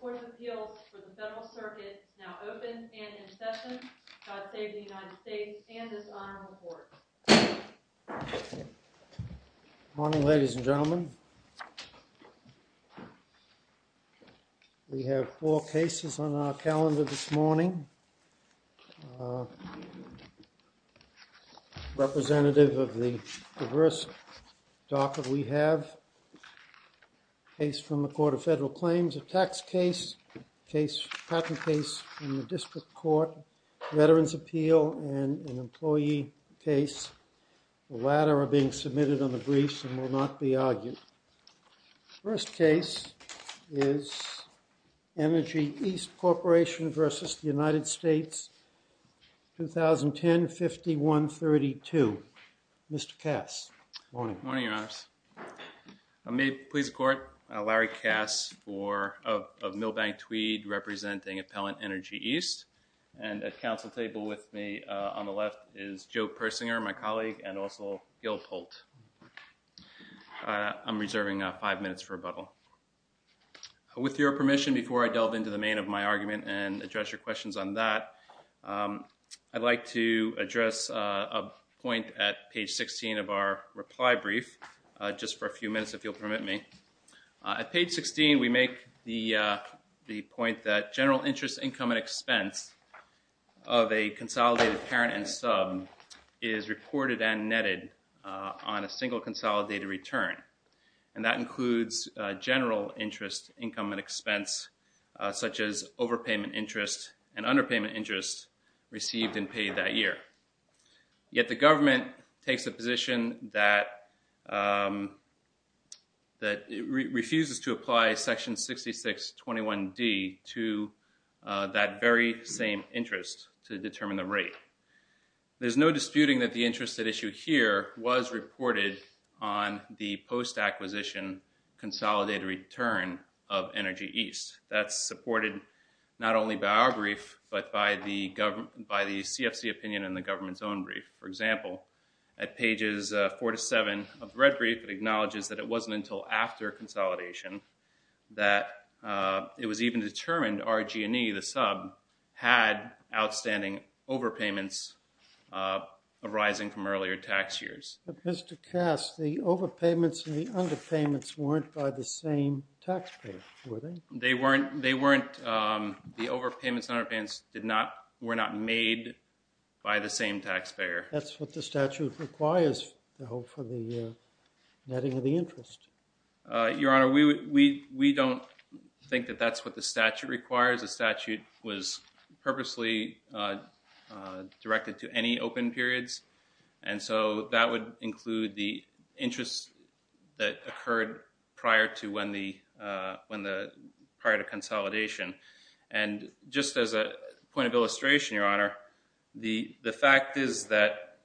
Court of Appeals for the Federal Circuit now open and in session. God save the United States and this honorable court. Good morning ladies and gentlemen. We have four cases on our calendar this morning. Representative of the diverse docket we have, case from the Court of Federal Claims, a tax case, patent case in the district court, veterans appeal and an employee case. The latter are being submitted on the briefs and will not be argued. First case is ENERGY EAST CORPORATION v. United States, 2010-51-32. Mr. Kass. Good morning, your honors. May it please the court, Larry Kass of Milbank Tweed representing Appellant ENERGY EAST. And at council table with me on the left is Joe Persinger, my colleague and also Gil Polt. I'm reserving five minutes for rebuttal. With your permission before I delve into the main of my argument and address your questions on that, I'd like to address a point at page 16 of our reply brief, just for a few minutes if you'll permit me. At page 16 we make the point that general interest income and expense of a consolidated parent and sub is reported and netted on a single consolidated return. And that includes general interest income and expense such as overpayment interest and underpayment interest received and paid that year. Yet the government takes a position that refuses to apply section 6621D to that very same interest to determine the rate. There's no disputing that the interest at issue here was reported on the post acquisition consolidated return of ENERGY EAST. That's supported not only by our brief but by the CFC opinion in the government's own brief. For example, at pages four to seven of the red brief it acknowledges that it wasn't until after consolidation that it was even determined RG&E, the sub, had outstanding overpayments arising from earlier tax years. But Mr. Kass, the overpayments and the underpayments weren't by the same taxpayer, were they? They weren't. The overpayments and underpayments were not made by the same taxpayer. That's what the statute requires for the netting of the interest. Your Honor, we don't think that that's what the statute requires. The statute was purposely directed to any open periods, and so that would include the interest that occurred prior to consolidation. And just as a point of illustration, Your Honor, the fact is that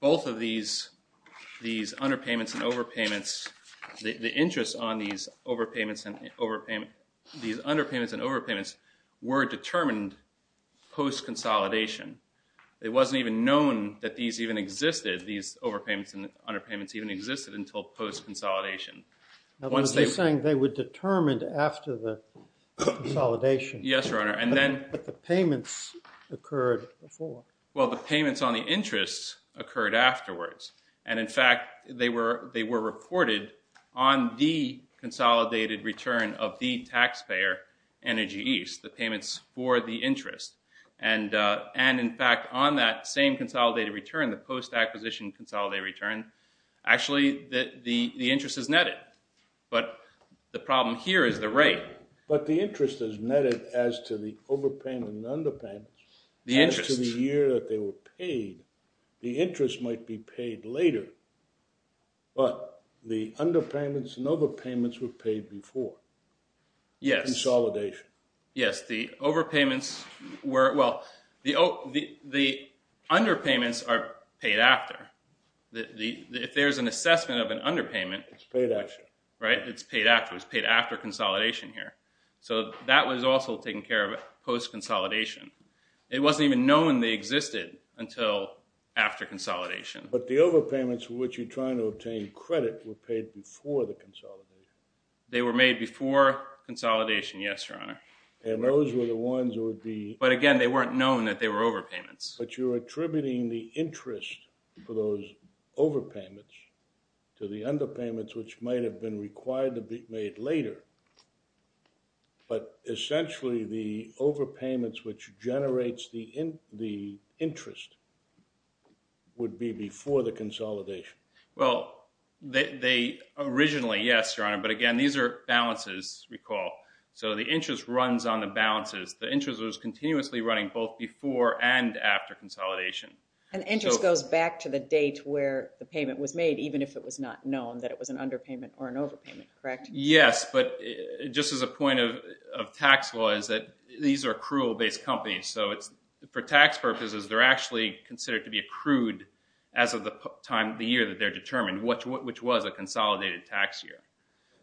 both of these underpayments and overpayments, the interest on these underpayments and overpayments were determined post consolidation. It wasn't even known that these even existed, these overpayments and underpayments even existed until post consolidation. I was just saying they were determined after the consolidation. Yes, Your Honor. But the payments occurred before. Well, the payments on the interest occurred afterwards. And in fact, they were reported on the consolidated return of the taxpayer, Energy East, the payments for the interest. And in fact, on that same consolidated return, the post acquisition consolidated return, actually the interest is netted. But the problem here is the rate. But the interest is netted as to the overpayment and underpayment as to the year that they were paid. The interest might be paid later, but the underpayments and overpayments were paid before consolidation. Yes, the underpayments are paid after. If there's an assessment of an underpayment, it's paid after consolidation here. So that was also taken care of post consolidation. It wasn't even known they existed until after consolidation. But the overpayments for which you're trying to obtain credit were paid before the consolidation. They were made before consolidation, yes, Your Honor. And those were the ones that would be— But again, they weren't known that they were overpayments. But you're attributing the interest for those overpayments to the underpayments, which might have been required to be made later. But essentially, the overpayments which generates the interest would be before the consolidation. Well, they—originally, yes, Your Honor, but again, these are balances, recall. So the interest runs on the balances. The interest was continuously running both before and after consolidation. And interest goes back to the date where the payment was made, even if it was not known that it was an underpayment or an overpayment, correct? Yes, but just as a point of tax law is that these are accrual-based companies. So for tax purposes, they're actually considered to be accrued as of the time of the year that they're determined, which was a consolidated tax year.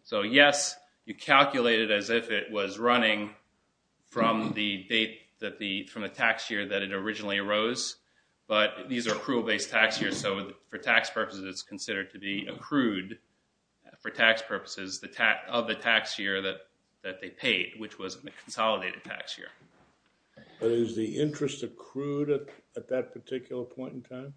So, yes, you calculate it as if it was running from the date that the—from the tax year that it originally arose. But these are accrual-based tax years, so for tax purposes, it's considered to be accrued for tax purposes of the tax year that they paid, which was a consolidated tax year. But is the interest accrued at that particular point in time?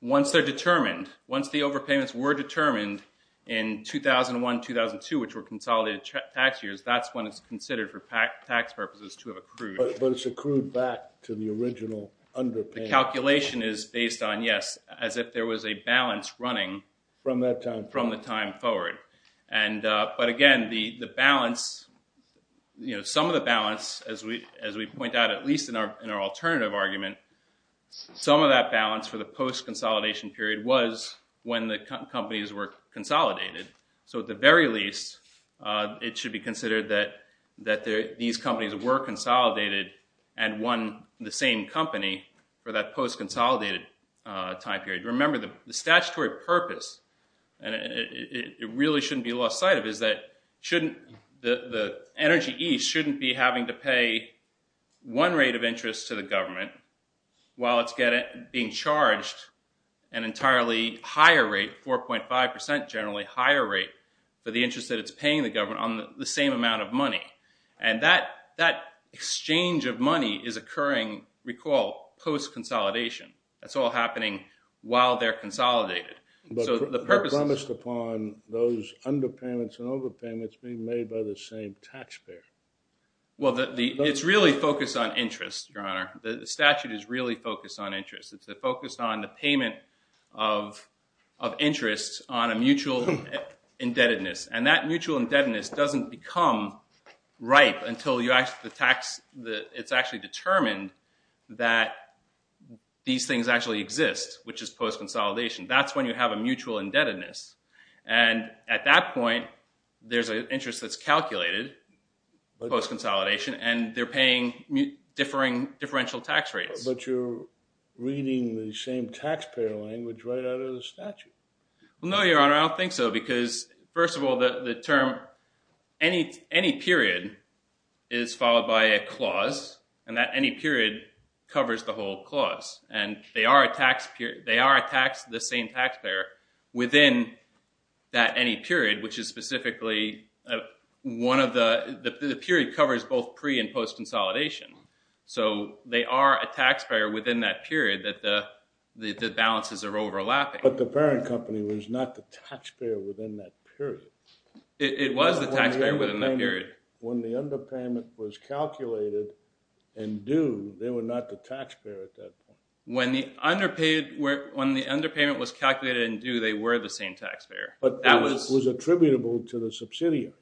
Once they're determined, once the overpayments were determined in 2001-2002, which were consolidated tax years, that's when it's considered for tax purposes to have accrued. But it's accrued back to the original underpayment. The calculation is based on, yes, as if there was a balance running— From that time. But, again, the balance—some of the balance, as we point out at least in our alternative argument, some of that balance for the post-consolidation period was when the companies were consolidated. So at the very least, it should be considered that these companies were consolidated and won the same company for that post-consolidated time period. Remember, the statutory purpose—and it really shouldn't be lost sight of—is that the energy ease shouldn't be having to pay one rate of interest to the government while it's being charged an entirely higher rate, 4.5 percent generally, higher rate for the interest that it's paying the government on the same amount of money. And that exchange of money is occurring, recall, post-consolidation. That's all happening while they're consolidated. But promised upon those underpayments and overpayments being made by the same taxpayer. Well, it's really focused on interest, Your Honor. The statute is really focused on interest. It's focused on the payment of interest on a mutual indebtedness. And that mutual indebtedness doesn't become ripe until it's actually determined that these things actually exist, which is post-consolidation. That's when you have a mutual indebtedness. And at that point, there's an interest that's calculated, post-consolidation, and they're paying differential tax rates. But you're reading the same taxpayer language right out of the statute. Well, no, Your Honor, I don't think so, because, first of all, the term any period is followed by a clause, and that any period covers the whole clause. And they are a tax—they are a tax—the same taxpayer within that any period, which is specifically one of the—the period covers both pre- and post-consolidation. So they are a taxpayer within that period that the balances are overlapping. But the parent company was not the taxpayer within that period. It was the taxpayer within that period. When the underpayment was calculated and due, they were not the taxpayer at that point. When the underpayment was calculated and due, they were the same taxpayer. But that was attributable to the subsidiary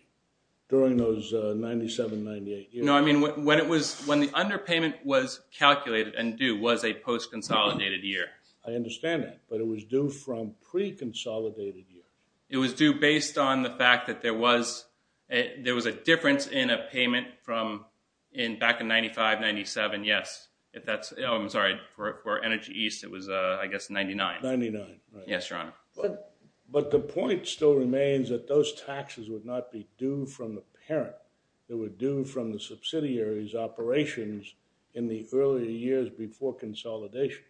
during those 97, 98 years. No, I mean when it was—when the underpayment was calculated and due was a post-consolidated year. I understand that, but it was due from pre-consolidated years. It was due based on the fact that there was—there was a difference in a payment from in—back in 95, 97, yes. If that's—oh, I'm sorry, for Energy East, it was, I guess, 99. 99, right. Yes, Your Honor. But the point still remains that those taxes would not be due from the parent. It would due from the subsidiary's operations in the earlier years before consolidation.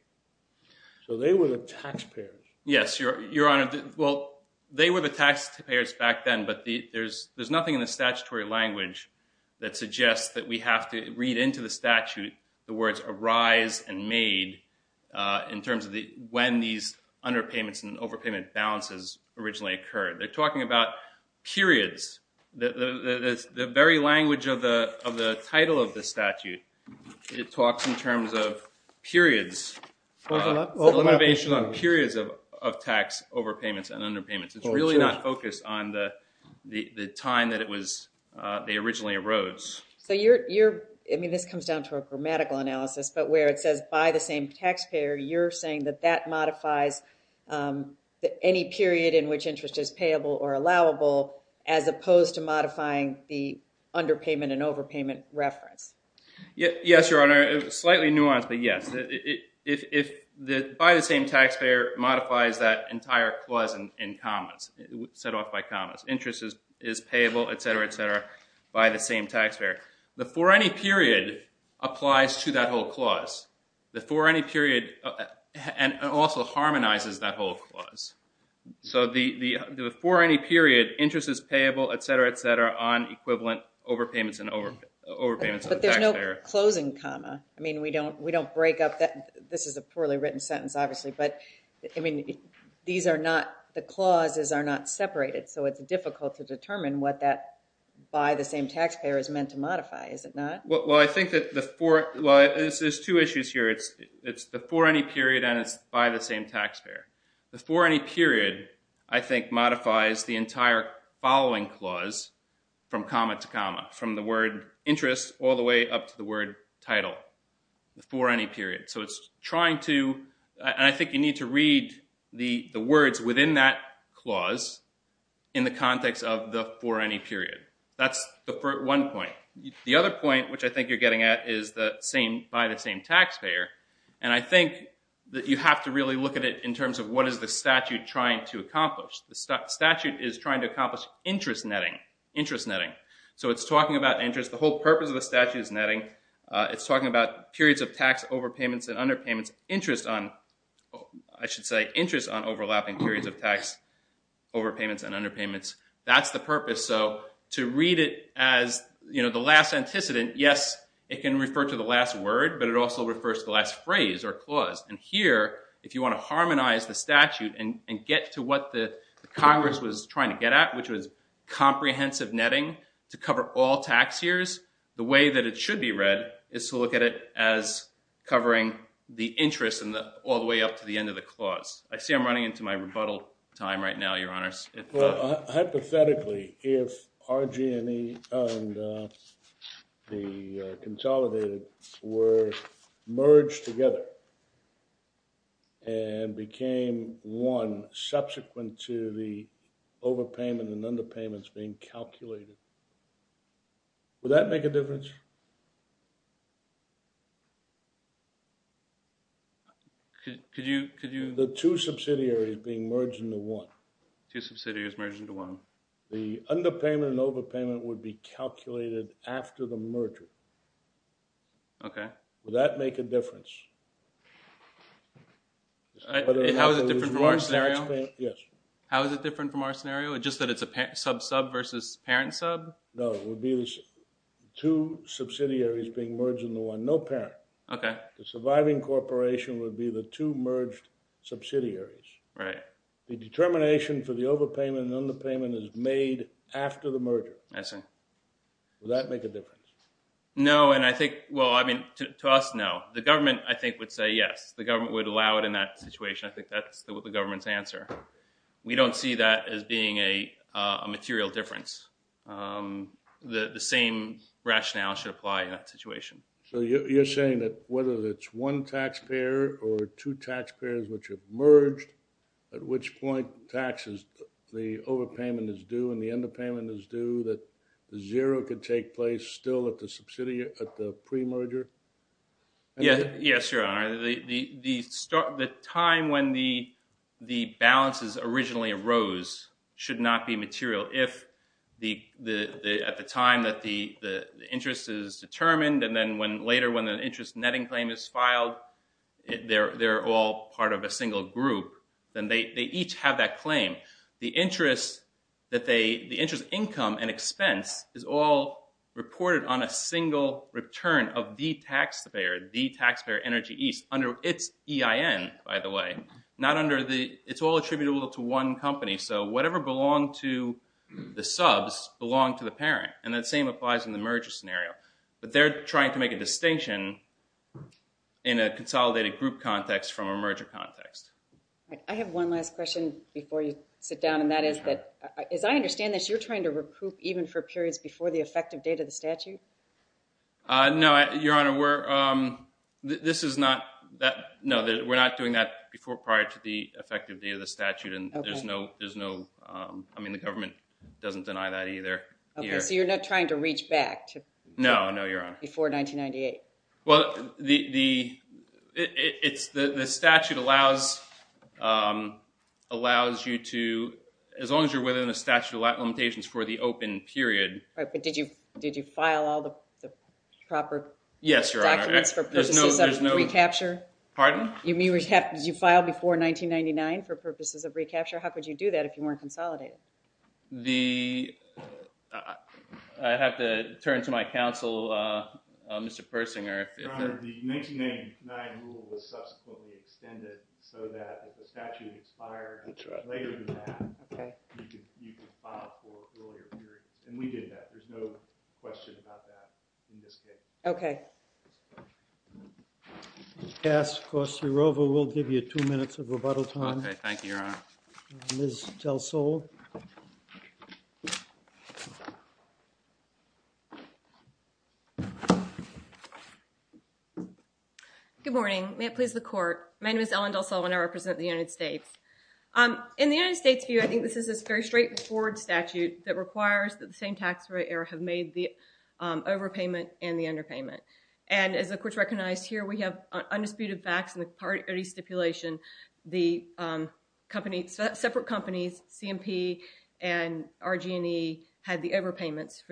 So they were the taxpayers. Yes, Your Honor. Well, they were the taxpayers back then, but there's nothing in the statutory language that suggests that we have to read into the statute the words arise and made in terms of when these underpayments and overpayment balances originally occurred. They're talking about periods. The very language of the title of the statute, it talks in terms of periods. Limitation on periods of tax overpayments and underpayments. It's really not focused on the time that it was—they originally arose. So you're—I mean, this comes down to a grammatical analysis, but where it says by the same taxpayer, you're saying that that modifies any period in which interest is payable or allowable as opposed to modifying the underpayment and overpayment reference. Yes, Your Honor. Slightly nuanced, but yes. By the same taxpayer modifies that entire clause in commas, set off by commas. Interest is payable, et cetera, et cetera, by the same taxpayer. The for any period applies to that whole clause. The for any period—and also harmonizes that whole clause. So the for any period, interest is payable, et cetera, et cetera, on equivalent overpayments and overpayments of the taxpayer. But there's no closing comma. I mean, we don't break up that—this is a poorly written sentence, obviously, but, I mean, these are not—the clauses are not separated. So it's difficult to determine what that by the same taxpayer is meant to modify, is it not? Well, I think that the for—well, there's two issues here. It's the for any period and it's by the same taxpayer. The for any period, I think, modifies the entire following clause from comma to comma, from the word interest all the way up to the word title, the for any period. So it's trying to—and I think you need to read the words within that clause in the context of the for any period. That's the one point. The other point, which I think you're getting at, is the same—by the same taxpayer. And I think that you have to really look at it in terms of what is the statute trying to accomplish. The statute is trying to accomplish interest netting, interest netting. So it's talking about interest. The whole purpose of the statute is netting. It's talking about periods of tax overpayments and underpayments, interest on—I should say interest on overlapping periods of tax overpayments and underpayments. That's the purpose. So to read it as the last antecedent, yes, it can refer to the last word, but it also refers to the last phrase or clause. And here, if you want to harmonize the statute and get to what the Congress was trying to get at, which was comprehensive netting to cover all tax years, the way that it should be read is to look at it as covering the interest all the way up to the end of the clause. I see I'm running into my rebuttal time right now, Your Honors. Well, hypothetically, if RG&E and the consolidated were merged together and became one subsequent to the overpayment and underpayments being calculated, would that make a difference? Could you— The two subsidiaries being merged into one. Two subsidiaries merged into one. The underpayment and overpayment would be calculated after the merger. Okay. Would that make a difference? How is it different from our scenario? Yes. How is it different from our scenario, just that it's a sub-sub versus parent-sub? No, it would be the two subsidiaries being merged into one, no parent. Okay. The surviving corporation would be the two merged subsidiaries. Right. The determination for the overpayment and underpayment is made after the merger. I see. Would that make a difference? No, and I think—well, I mean, to us, no. The government, I think, would say yes. The government would allow it in that situation. I think that's the government's answer. We don't see that as being a material difference. The same rationale should apply in that situation. So you're saying that whether it's one taxpayer or two taxpayers which have merged, at which point taxes, the overpayment is due and the underpayment is due, that zero could take place still at the pre-merger? Yes, Your Honor. The time when the balances originally arose should not be material. If at the time that the interest is determined and then later when an interest netting claim is filed, they're all part of a single group, then they each have that claim. The interest income and expense is all reported on a single return of the taxpayer, the taxpayer Energy East, under its EIN, by the way. It's all attributable to one company. So whatever belonged to the subs belonged to the parent. And that same applies in the merger scenario. But they're trying to make a distinction in a consolidated group context from a merger context. I have one last question before you sit down, and that is that, as I understand this, you're trying to recoup even for periods before the effective date of the statute? No, Your Honor. No, we're not doing that prior to the effective date of the statute. I mean, the government doesn't deny that either. So you're not trying to reach back before 1998? Well, the statute allows you to, as long as you're within the statute of limitations for the open period. But did you file all the proper? Yes, Your Honor. There's no recapture? Pardon? Did you file before 1999 for purposes of recapture? How could you do that if you weren't consolidated? I have to turn to my counsel, Mr. Persinger. Your Honor, the 1999 rule was subsequently extended so that if the statute expired later than that, you could file for earlier periods. And we did that. There's no question about that in this case. Okay. We'll pass Corsi Rova. We'll give you two minutes of rebuttal time. Okay, thank you, Your Honor. Ms. Del Sol. Good morning. May it please the Court. My name is Ellen Del Sol, and I represent the United States. In the United States' view, I think this is a very straightforward statute that requires that the same tax rate error have made the overpayment and the underpayment. And as the Court's recognized here, we have undisputed facts in the parity stipulation. The separate companies, C&P and RG&E, had the overpayments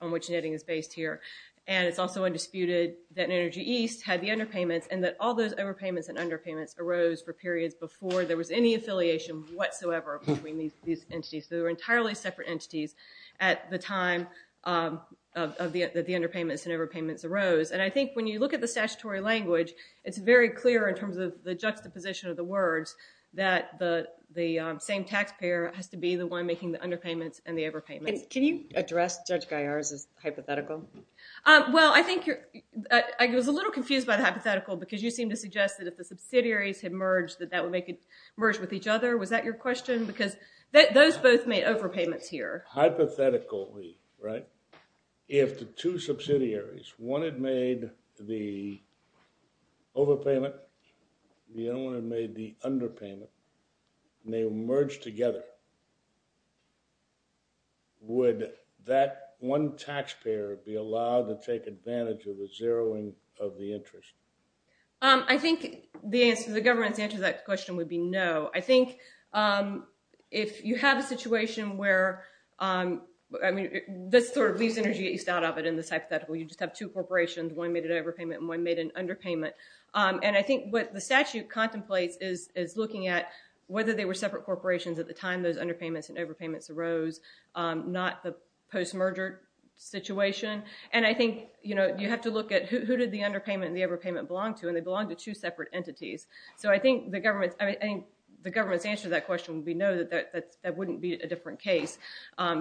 on which netting is based here. And it's also undisputed that Energy East had the underpayments and that all those overpayments and underpayments arose for periods before there was any affiliation whatsoever between these entities. They were entirely separate entities at the time that the underpayments and overpayments arose. And I think when you look at the statutory language, it's very clear in terms of the juxtaposition of the words that the same taxpayer has to be the one making the underpayments and the overpayments. Can you address Judge Gaillard's hypothetical? Well, I think you're – I was a little confused by the hypothetical because you seemed to suggest that if the subsidiaries had merged, that that would make it merge with each other. Was that your question? Because those both made overpayments here. Hypothetically, right? If the two subsidiaries, one had made the overpayment, the other one had made the underpayment, and they merged together, would that one taxpayer be allowed to take advantage of the zeroing of the interest? I think the government's answer to that question would be no. I think if you have a situation where – I mean, this sort of leaves energy east out of it in this hypothetical. You just have two corporations. One made an overpayment and one made an underpayment. And I think what the statute contemplates is looking at whether they were separate corporations at the time those underpayments and overpayments arose, not the post-merger situation. And I think, you know, you have to look at who did the underpayment and the overpayment belong to, and they belong to two separate entities. So I think the government's answer to that question would be no. That wouldn't be a different case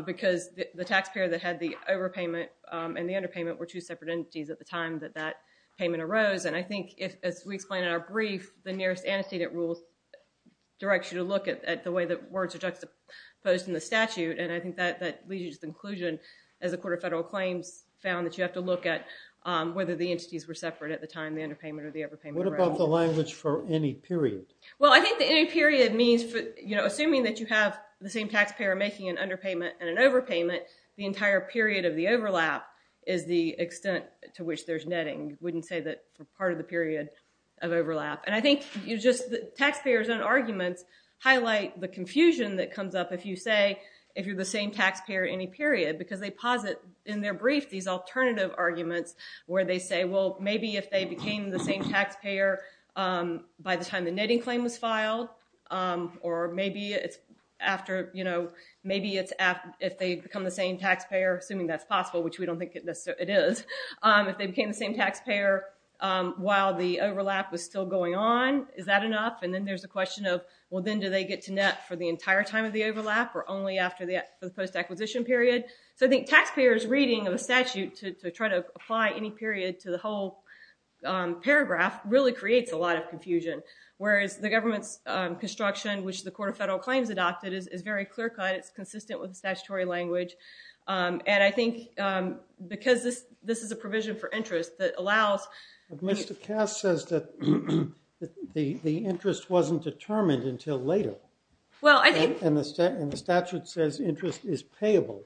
because the taxpayer that had the overpayment and the underpayment were two separate entities at the time that that payment arose. And I think, as we explained in our brief, the nearest antecedent rule directs you to look at the way that words are juxtaposed in the statute. And I think that leads you to the conclusion, as the Court of Federal Claims found, that you have to look at whether the entities were separate at the time the underpayment or the overpayment arose. What about the language for any period? Well, I think the any period means, you know, assuming that you have the same taxpayer making an underpayment and an overpayment, the entire period of the overlap is the extent to which there's netting. You wouldn't say that part of the period of overlap. And I think you just—taxpayers' own arguments highlight the confusion that comes up if you say, if you're the same taxpayer any period, because they posit in their brief these alternative arguments where they say, well, maybe if they became the same taxpayer by the time the netting claim was filed, or maybe it's after, you know, maybe it's if they become the same taxpayer, assuming that's possible, which we don't think it is, if they became the same taxpayer while the overlap was still going on, is that enough? And then there's the question of, well, then do they get to net for the entire time of the overlap or only after the post-acquisition period? So I think taxpayers' reading of a statute to try to apply any period to the whole paragraph really creates a lot of confusion, whereas the government's construction, which the Court of Federal Claims adopted, is very clear-cut. It's consistent with statutory language. And I think because this is a provision for interest that allows— But Mr. Cass says that the interest wasn't determined until later. And the statute says interest is payable.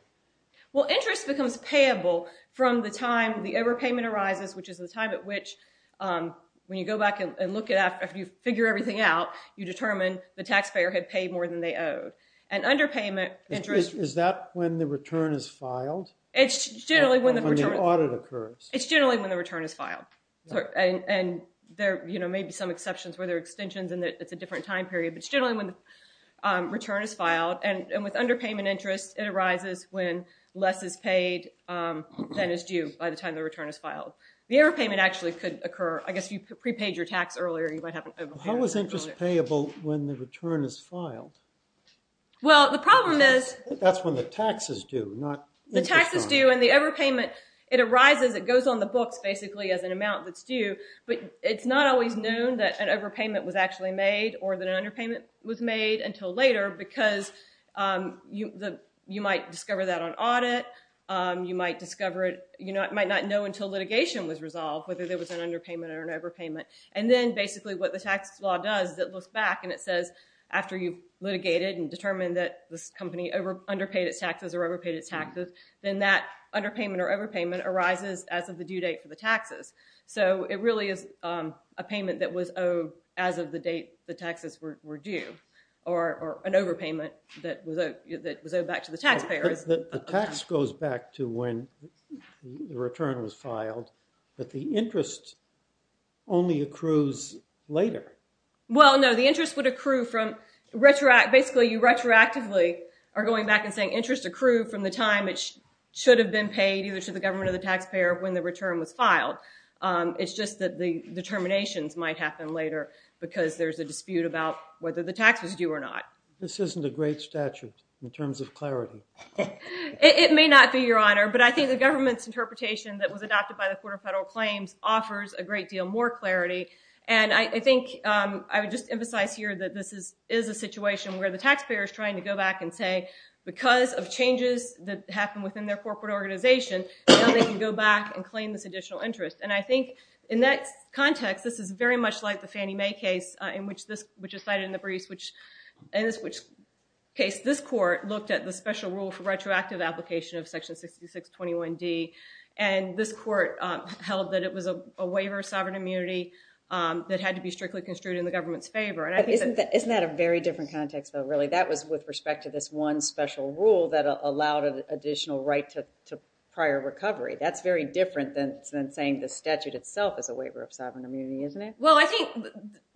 Well, interest becomes payable from the time the overpayment arises, which is the time at which, when you go back and look at it after you figure everything out, you determine the taxpayer had paid more than they owed. And underpayment— Is that when the return is filed? It's generally when the return— Or when the audit occurs. It's generally when the return is filed. And there may be some exceptions where there are extensions and it's a different time period, but it's generally when the return is filed. And with underpayment interest, it arises when less is paid than is due by the time the return is filed. The overpayment actually could occur—I guess if you prepaid your tax earlier, you might have an overpayment. How is interest payable when the return is filed? Well, the problem is— That's when the tax is due, not interest on it. The tax is due, and the overpayment, it arises, it goes on the books, basically, as an amount that's due. But it's not always known that an overpayment was actually made or that an underpayment was made until later because you might discover that on audit. You might not know until litigation was resolved whether there was an underpayment or an overpayment. And then, basically, what the tax law does is it looks back and it says, after you've litigated and determined that this company underpaid its taxes or overpaid its taxes, then that underpayment or overpayment arises as of the due date for the taxes. So it really is a payment that was owed as of the date the taxes were due, or an overpayment that was owed back to the taxpayer. The tax goes back to when the return was filed, but the interest only accrues later. Well, no, the interest would accrue from—basically, you retroactively are going back and saying interest accrued from the time it should have been paid, either to the government or the taxpayer, when the return was filed. It's just that the determinations might happen later because there's a dispute about whether the tax was due or not. This isn't a great statute in terms of clarity. It may not be, Your Honor, but I think the government's interpretation that was adopted by the Court of Federal Claims offers a great deal more clarity. And I think I would just emphasize here that this is a situation where the taxpayer is trying to go back and say, because of changes that happen within their corporate organization, now they can go back and claim this additional interest. And I think in that context, this is very much like the Fannie Mae case, which is cited in the briefs, in which case this court looked at the special rule for retroactive application of Section 6621D, and this court held that it was a waiver of sovereign immunity that had to be strictly construed in the government's favor. Isn't that a very different context, though, really? That was with respect to this one special rule that allowed an additional right to prior recovery. That's very different than saying the statute itself is a waiver of sovereign immunity, isn't it? Well, I think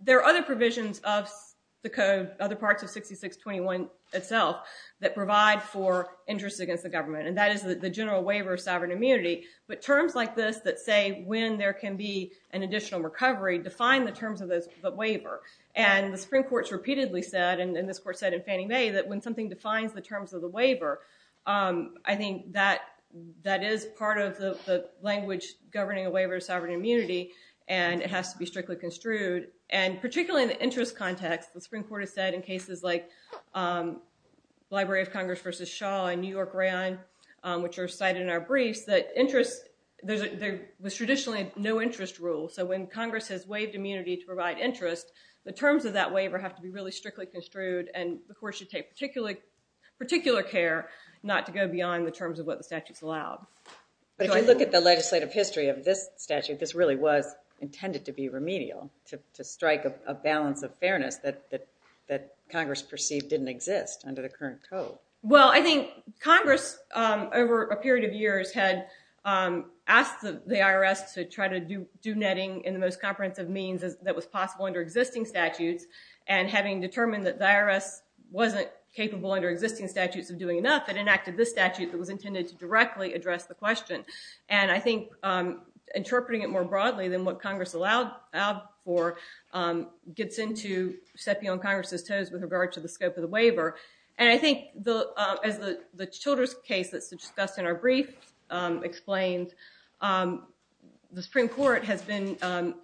there are other provisions of the code, other parts of 6621 itself, that provide for interest against the government, and that is the general waiver of sovereign immunity. But terms like this that say when there can be an additional recovery define the terms of the waiver. And the Supreme Court has repeatedly said, and this court said in Fannie Mae, that when something defines the terms of the waiver, I think that is part of the language governing a waiver of sovereign immunity, and it has to be strictly construed. And particularly in the interest context, the Supreme Court has said in cases like the Library of Congress v. Shaw in New York Rand, which are cited in our briefs, that there was traditionally no interest rule. So when Congress has waived immunity to provide interest, the terms of that waiver have to be really strictly construed, and the court should take particular care not to go beyond the terms of what the statute's allowed. But if you look at the legislative history of this statute, this really was intended to be remedial, to strike a balance of fairness that Congress perceived didn't exist under the current code. Well, I think Congress, over a period of years, had asked the IRS to try to do netting in the most comprehensive means that was possible under existing statutes, and having determined that the IRS wasn't capable under existing statutes of doing enough, it enacted this statute that was intended to directly address the question. And I think interpreting it more broadly than what Congress allowed for gets into stepping on Congress's toes with regard to the scope of the waiver. And I think, as the Childress case that's discussed in our brief explains, the Supreme Court, in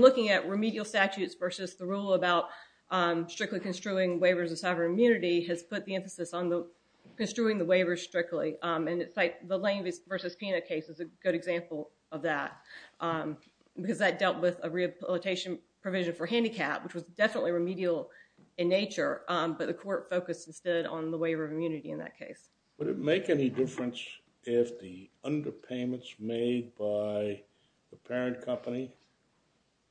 looking at remedial statutes versus the rule about strictly construing waivers of sovereign immunity, has put the emphasis on construing the waiver strictly. And the Lane v. Pina case is a good example of that, because that dealt with a rehabilitation provision for handicap, which was definitely remedial in nature, but the court focused instead on the waiver of immunity in that case. Would it make any difference if the underpayments made by the parent company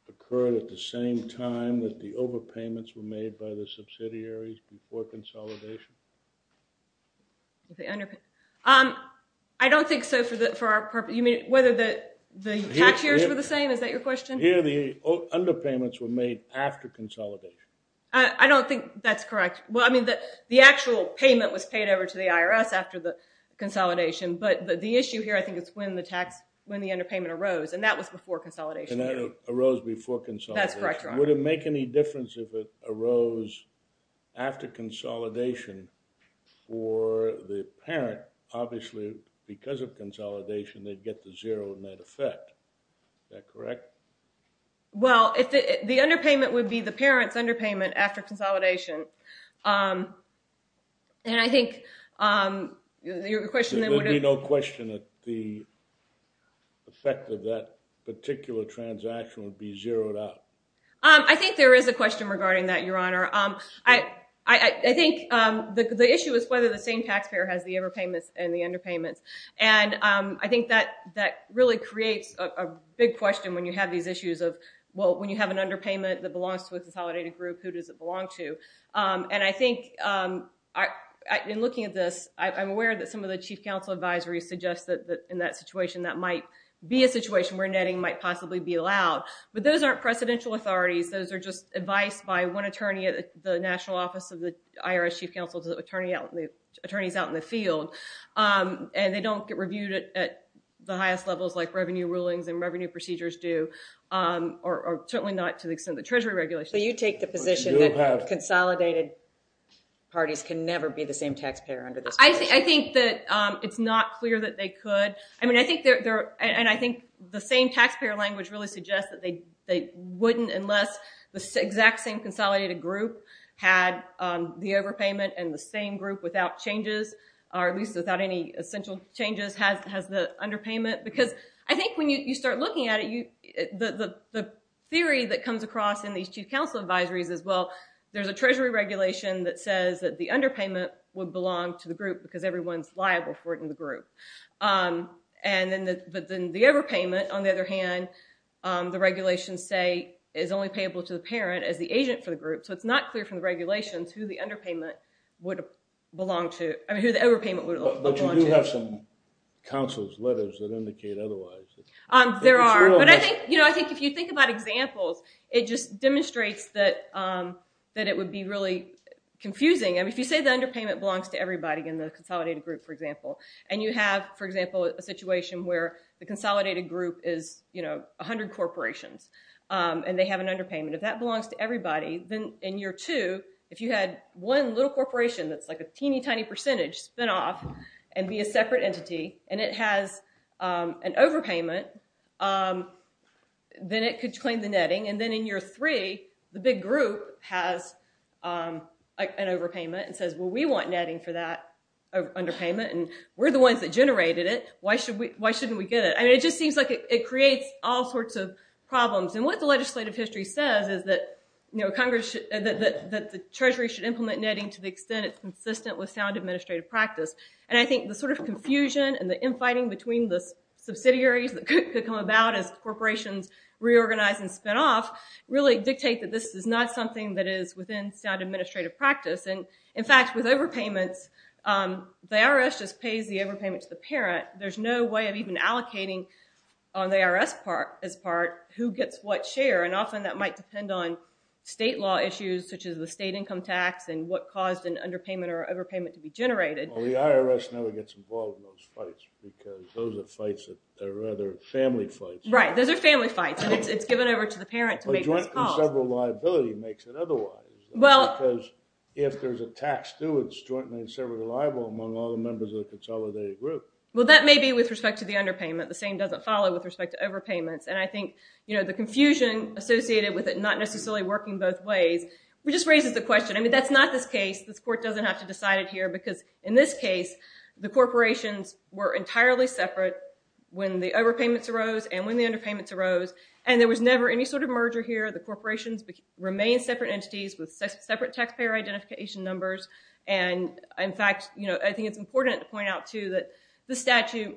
occurred at the same time that the overpayments were made by the subsidiaries before consolidation? I don't think so for our purpose. You mean whether the tax years were the same? Is that your question? Here, the underpayments were made after consolidation. I don't think that's correct. Well, I mean, the actual payment was paid over to the IRS after the consolidation. But the issue here, I think, is when the underpayment arose, and that was before consolidation. And that arose before consolidation. That's correct, Your Honor. Would it make any difference if it arose after consolidation for the parent? Obviously, because of consolidation, they'd get the zero in that effect. Is that correct? Well, the underpayment would be the parent's underpayment after consolidation. And I think your question then would be no question that the effect of that particular transaction would be zeroed out. I think there is a question regarding that, Your Honor. I think the issue is whether the same taxpayer has the overpayments and the underpayments. And I think that really creates a big question when you have these issues of, well, when you have an underpayment that belongs to a consolidated group, who does it belong to? And I think in looking at this, I'm aware that some of the Chief Counsel advisories suggest that in that situation, that might be a situation where netting might possibly be allowed. But those aren't precedential authorities. Those are just advice by one attorney at the National Office of the IRS Chief Counsel to attorneys out in the field. And they don't get reviewed at the highest levels like revenue rulings and revenue procedures do, or certainly not to the extent the Treasury regulations do. So you take the position that consolidated parties can never be the same taxpayer under this position? I think that it's not clear that they could. I mean, I think the same taxpayer language really suggests that they wouldn't unless the exact same consolidated group had the overpayment and the same group without changes, or at least without any essential changes, has the underpayment. Because I think when you start looking at it, the theory that comes across in these Chief Counsel advisories is, well, there's a Treasury regulation that says that the underpayment would belong to the group because everyone's liable for it in the group. But then the overpayment, on the other hand, the regulations say is only payable to the parent as the agent for the group. So it's not clear from the regulations who the overpayment would belong to. But you do have some counsel's letters that indicate otherwise. There are. But I think if you think about examples, it just demonstrates that it would be really confusing. I mean, if you say the underpayment belongs to everybody in the consolidated group, for example, and you have, for example, a situation where the consolidated group is 100 corporations and they have an underpayment, if that belongs to everybody, then in year two, if you had one little corporation that's like a teeny, tiny percentage spin off and be a separate entity and it has an overpayment, then it could claim the netting. And then in year three, the big group has an overpayment and says, well, we want netting for that underpayment, and we're the ones that generated it. Why shouldn't we get it? I mean, it just seems like it creates all sorts of problems. And what the legislative history says is that the Treasury should implement netting to the extent it's consistent with sound administrative practice. And I think the sort of confusion and the infighting between the subsidiaries that could come about as corporations reorganize and spin off really dictate that this is not something that is within sound administrative practice. And, in fact, with overpayments, the IRS just pays the overpayment to the parent. There's no way of even allocating on the IRS's part who gets what share. And often that might depend on state law issues, such as the state income tax and what caused an underpayment or overpayment to be generated. Well, the IRS never gets involved in those fights because those are fights that are rather family fights. Right. Those are family fights, and it's given over to the parent to make those calls. Well, joint and several liability makes it otherwise. Well. Because if there's a tax due, it's jointly and severally liable among all the members of the consolidated group. Well, that may be with respect to the underpayment. The same doesn't follow with respect to overpayments. And I think the confusion associated with it not necessarily working both ways just raises the question. I mean, that's not this case. This court doesn't have to decide it here because, in this case, the corporations were entirely separate when the overpayments arose and when the underpayments arose, and there was never any sort of merger here. The corporations remained separate entities with separate taxpayer identification numbers. And, in fact, I think it's important to point out, too, that the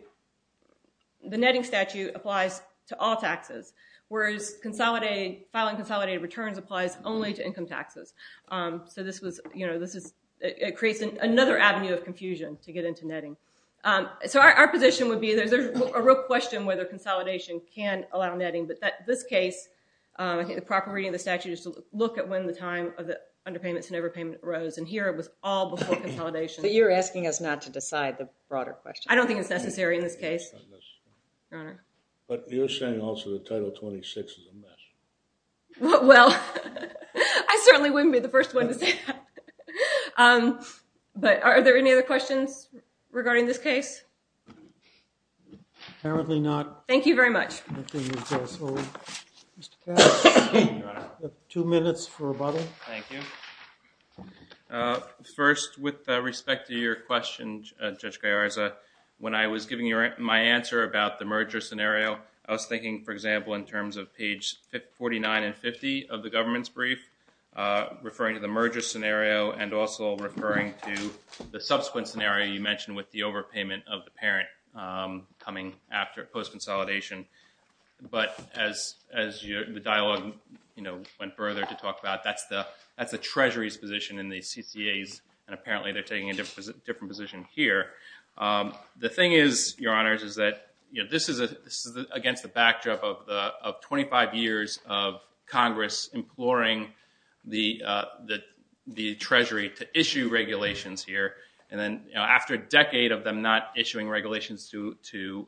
netting statute applies to all taxes, whereas filing consolidated returns applies only to income taxes. So it creates another avenue of confusion to get into netting. So our position would be there's a real question whether consolidation can allow netting. But in this case, I think the proper reading of the statute is to look at when the time of the underpayments and overpayments arose. And here, it was all before consolidation. But you're asking us not to decide the broader question. I don't think it's necessary in this case, Your Honor. But you're saying also that Title 26 is a mess. Well, I certainly wouldn't be the first one to say that. But are there any other questions regarding this case? Apparently not. Thank you very much. I think we're just over. Mr. Katz? Your Honor. You have two minutes for rebuttal. Thank you. First, with respect to your question, Judge Gallarza, when I was giving you my answer about the merger scenario, I was thinking, for example, in terms of page 49 and 50 of the government's brief, referring to the merger scenario and also referring to the subsequent scenario you mentioned with the overpayment of the parent coming after post-consolidation. But as the dialogue went further to talk about, that's the Treasury's position in the CCAs, and apparently they're taking a different position here. The thing is, Your Honors, is that this is against the backdrop of 25 years of Congress imploring the Treasury to issue regulations here. And then after a decade of them not issuing regulations to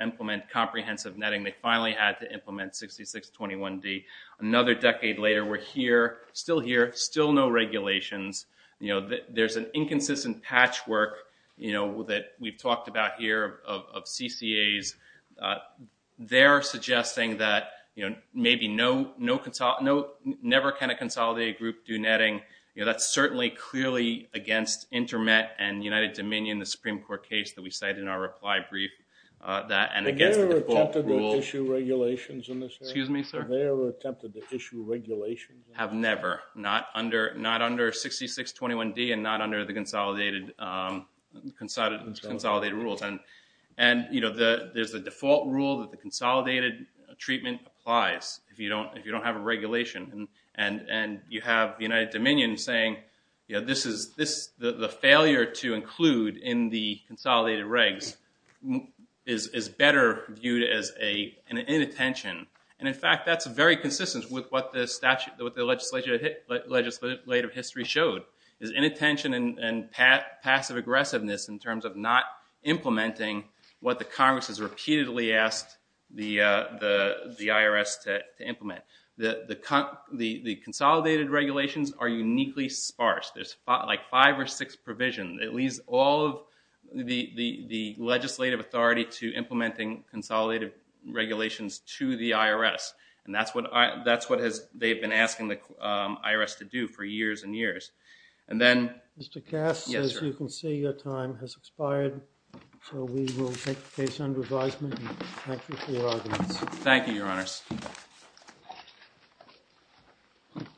implement comprehensive netting, they finally had to implement 6621D. Another decade later, we're here, still here, still no regulations. There's an inconsistent patchwork that we've talked about here of CCAs. They're suggesting that maybe never can a consolidated group do netting. That's certainly clearly against InterMet and United Dominion, the Supreme Court case that we cited in our reply brief. And against the default rule. Have they ever attempted to issue regulations in this area? Excuse me, sir? Have they ever attempted to issue regulations? Have never. Not under 6621D and not under the consolidated rules. And there's a default rule that the consolidated treatment applies if you don't have a regulation. And you have the United Dominion saying the failure to include in the consolidated regs is better viewed as an inattention. And in fact, that's very consistent with what the legislative history showed. It's inattention and passive aggressiveness in terms of not implementing what the Congress has repeatedly asked the IRS to implement. The consolidated regulations are uniquely sparse. There's like five or six provisions. It leaves all of the legislative authority to implementing consolidated regulations to the IRS. And that's what they've been asking the IRS to do for years and years. And then. Mr. Cass. Yes, sir. As you can see, your time has expired. So we will take the case under advisement and thank you for your arguments. Thank you, your honors.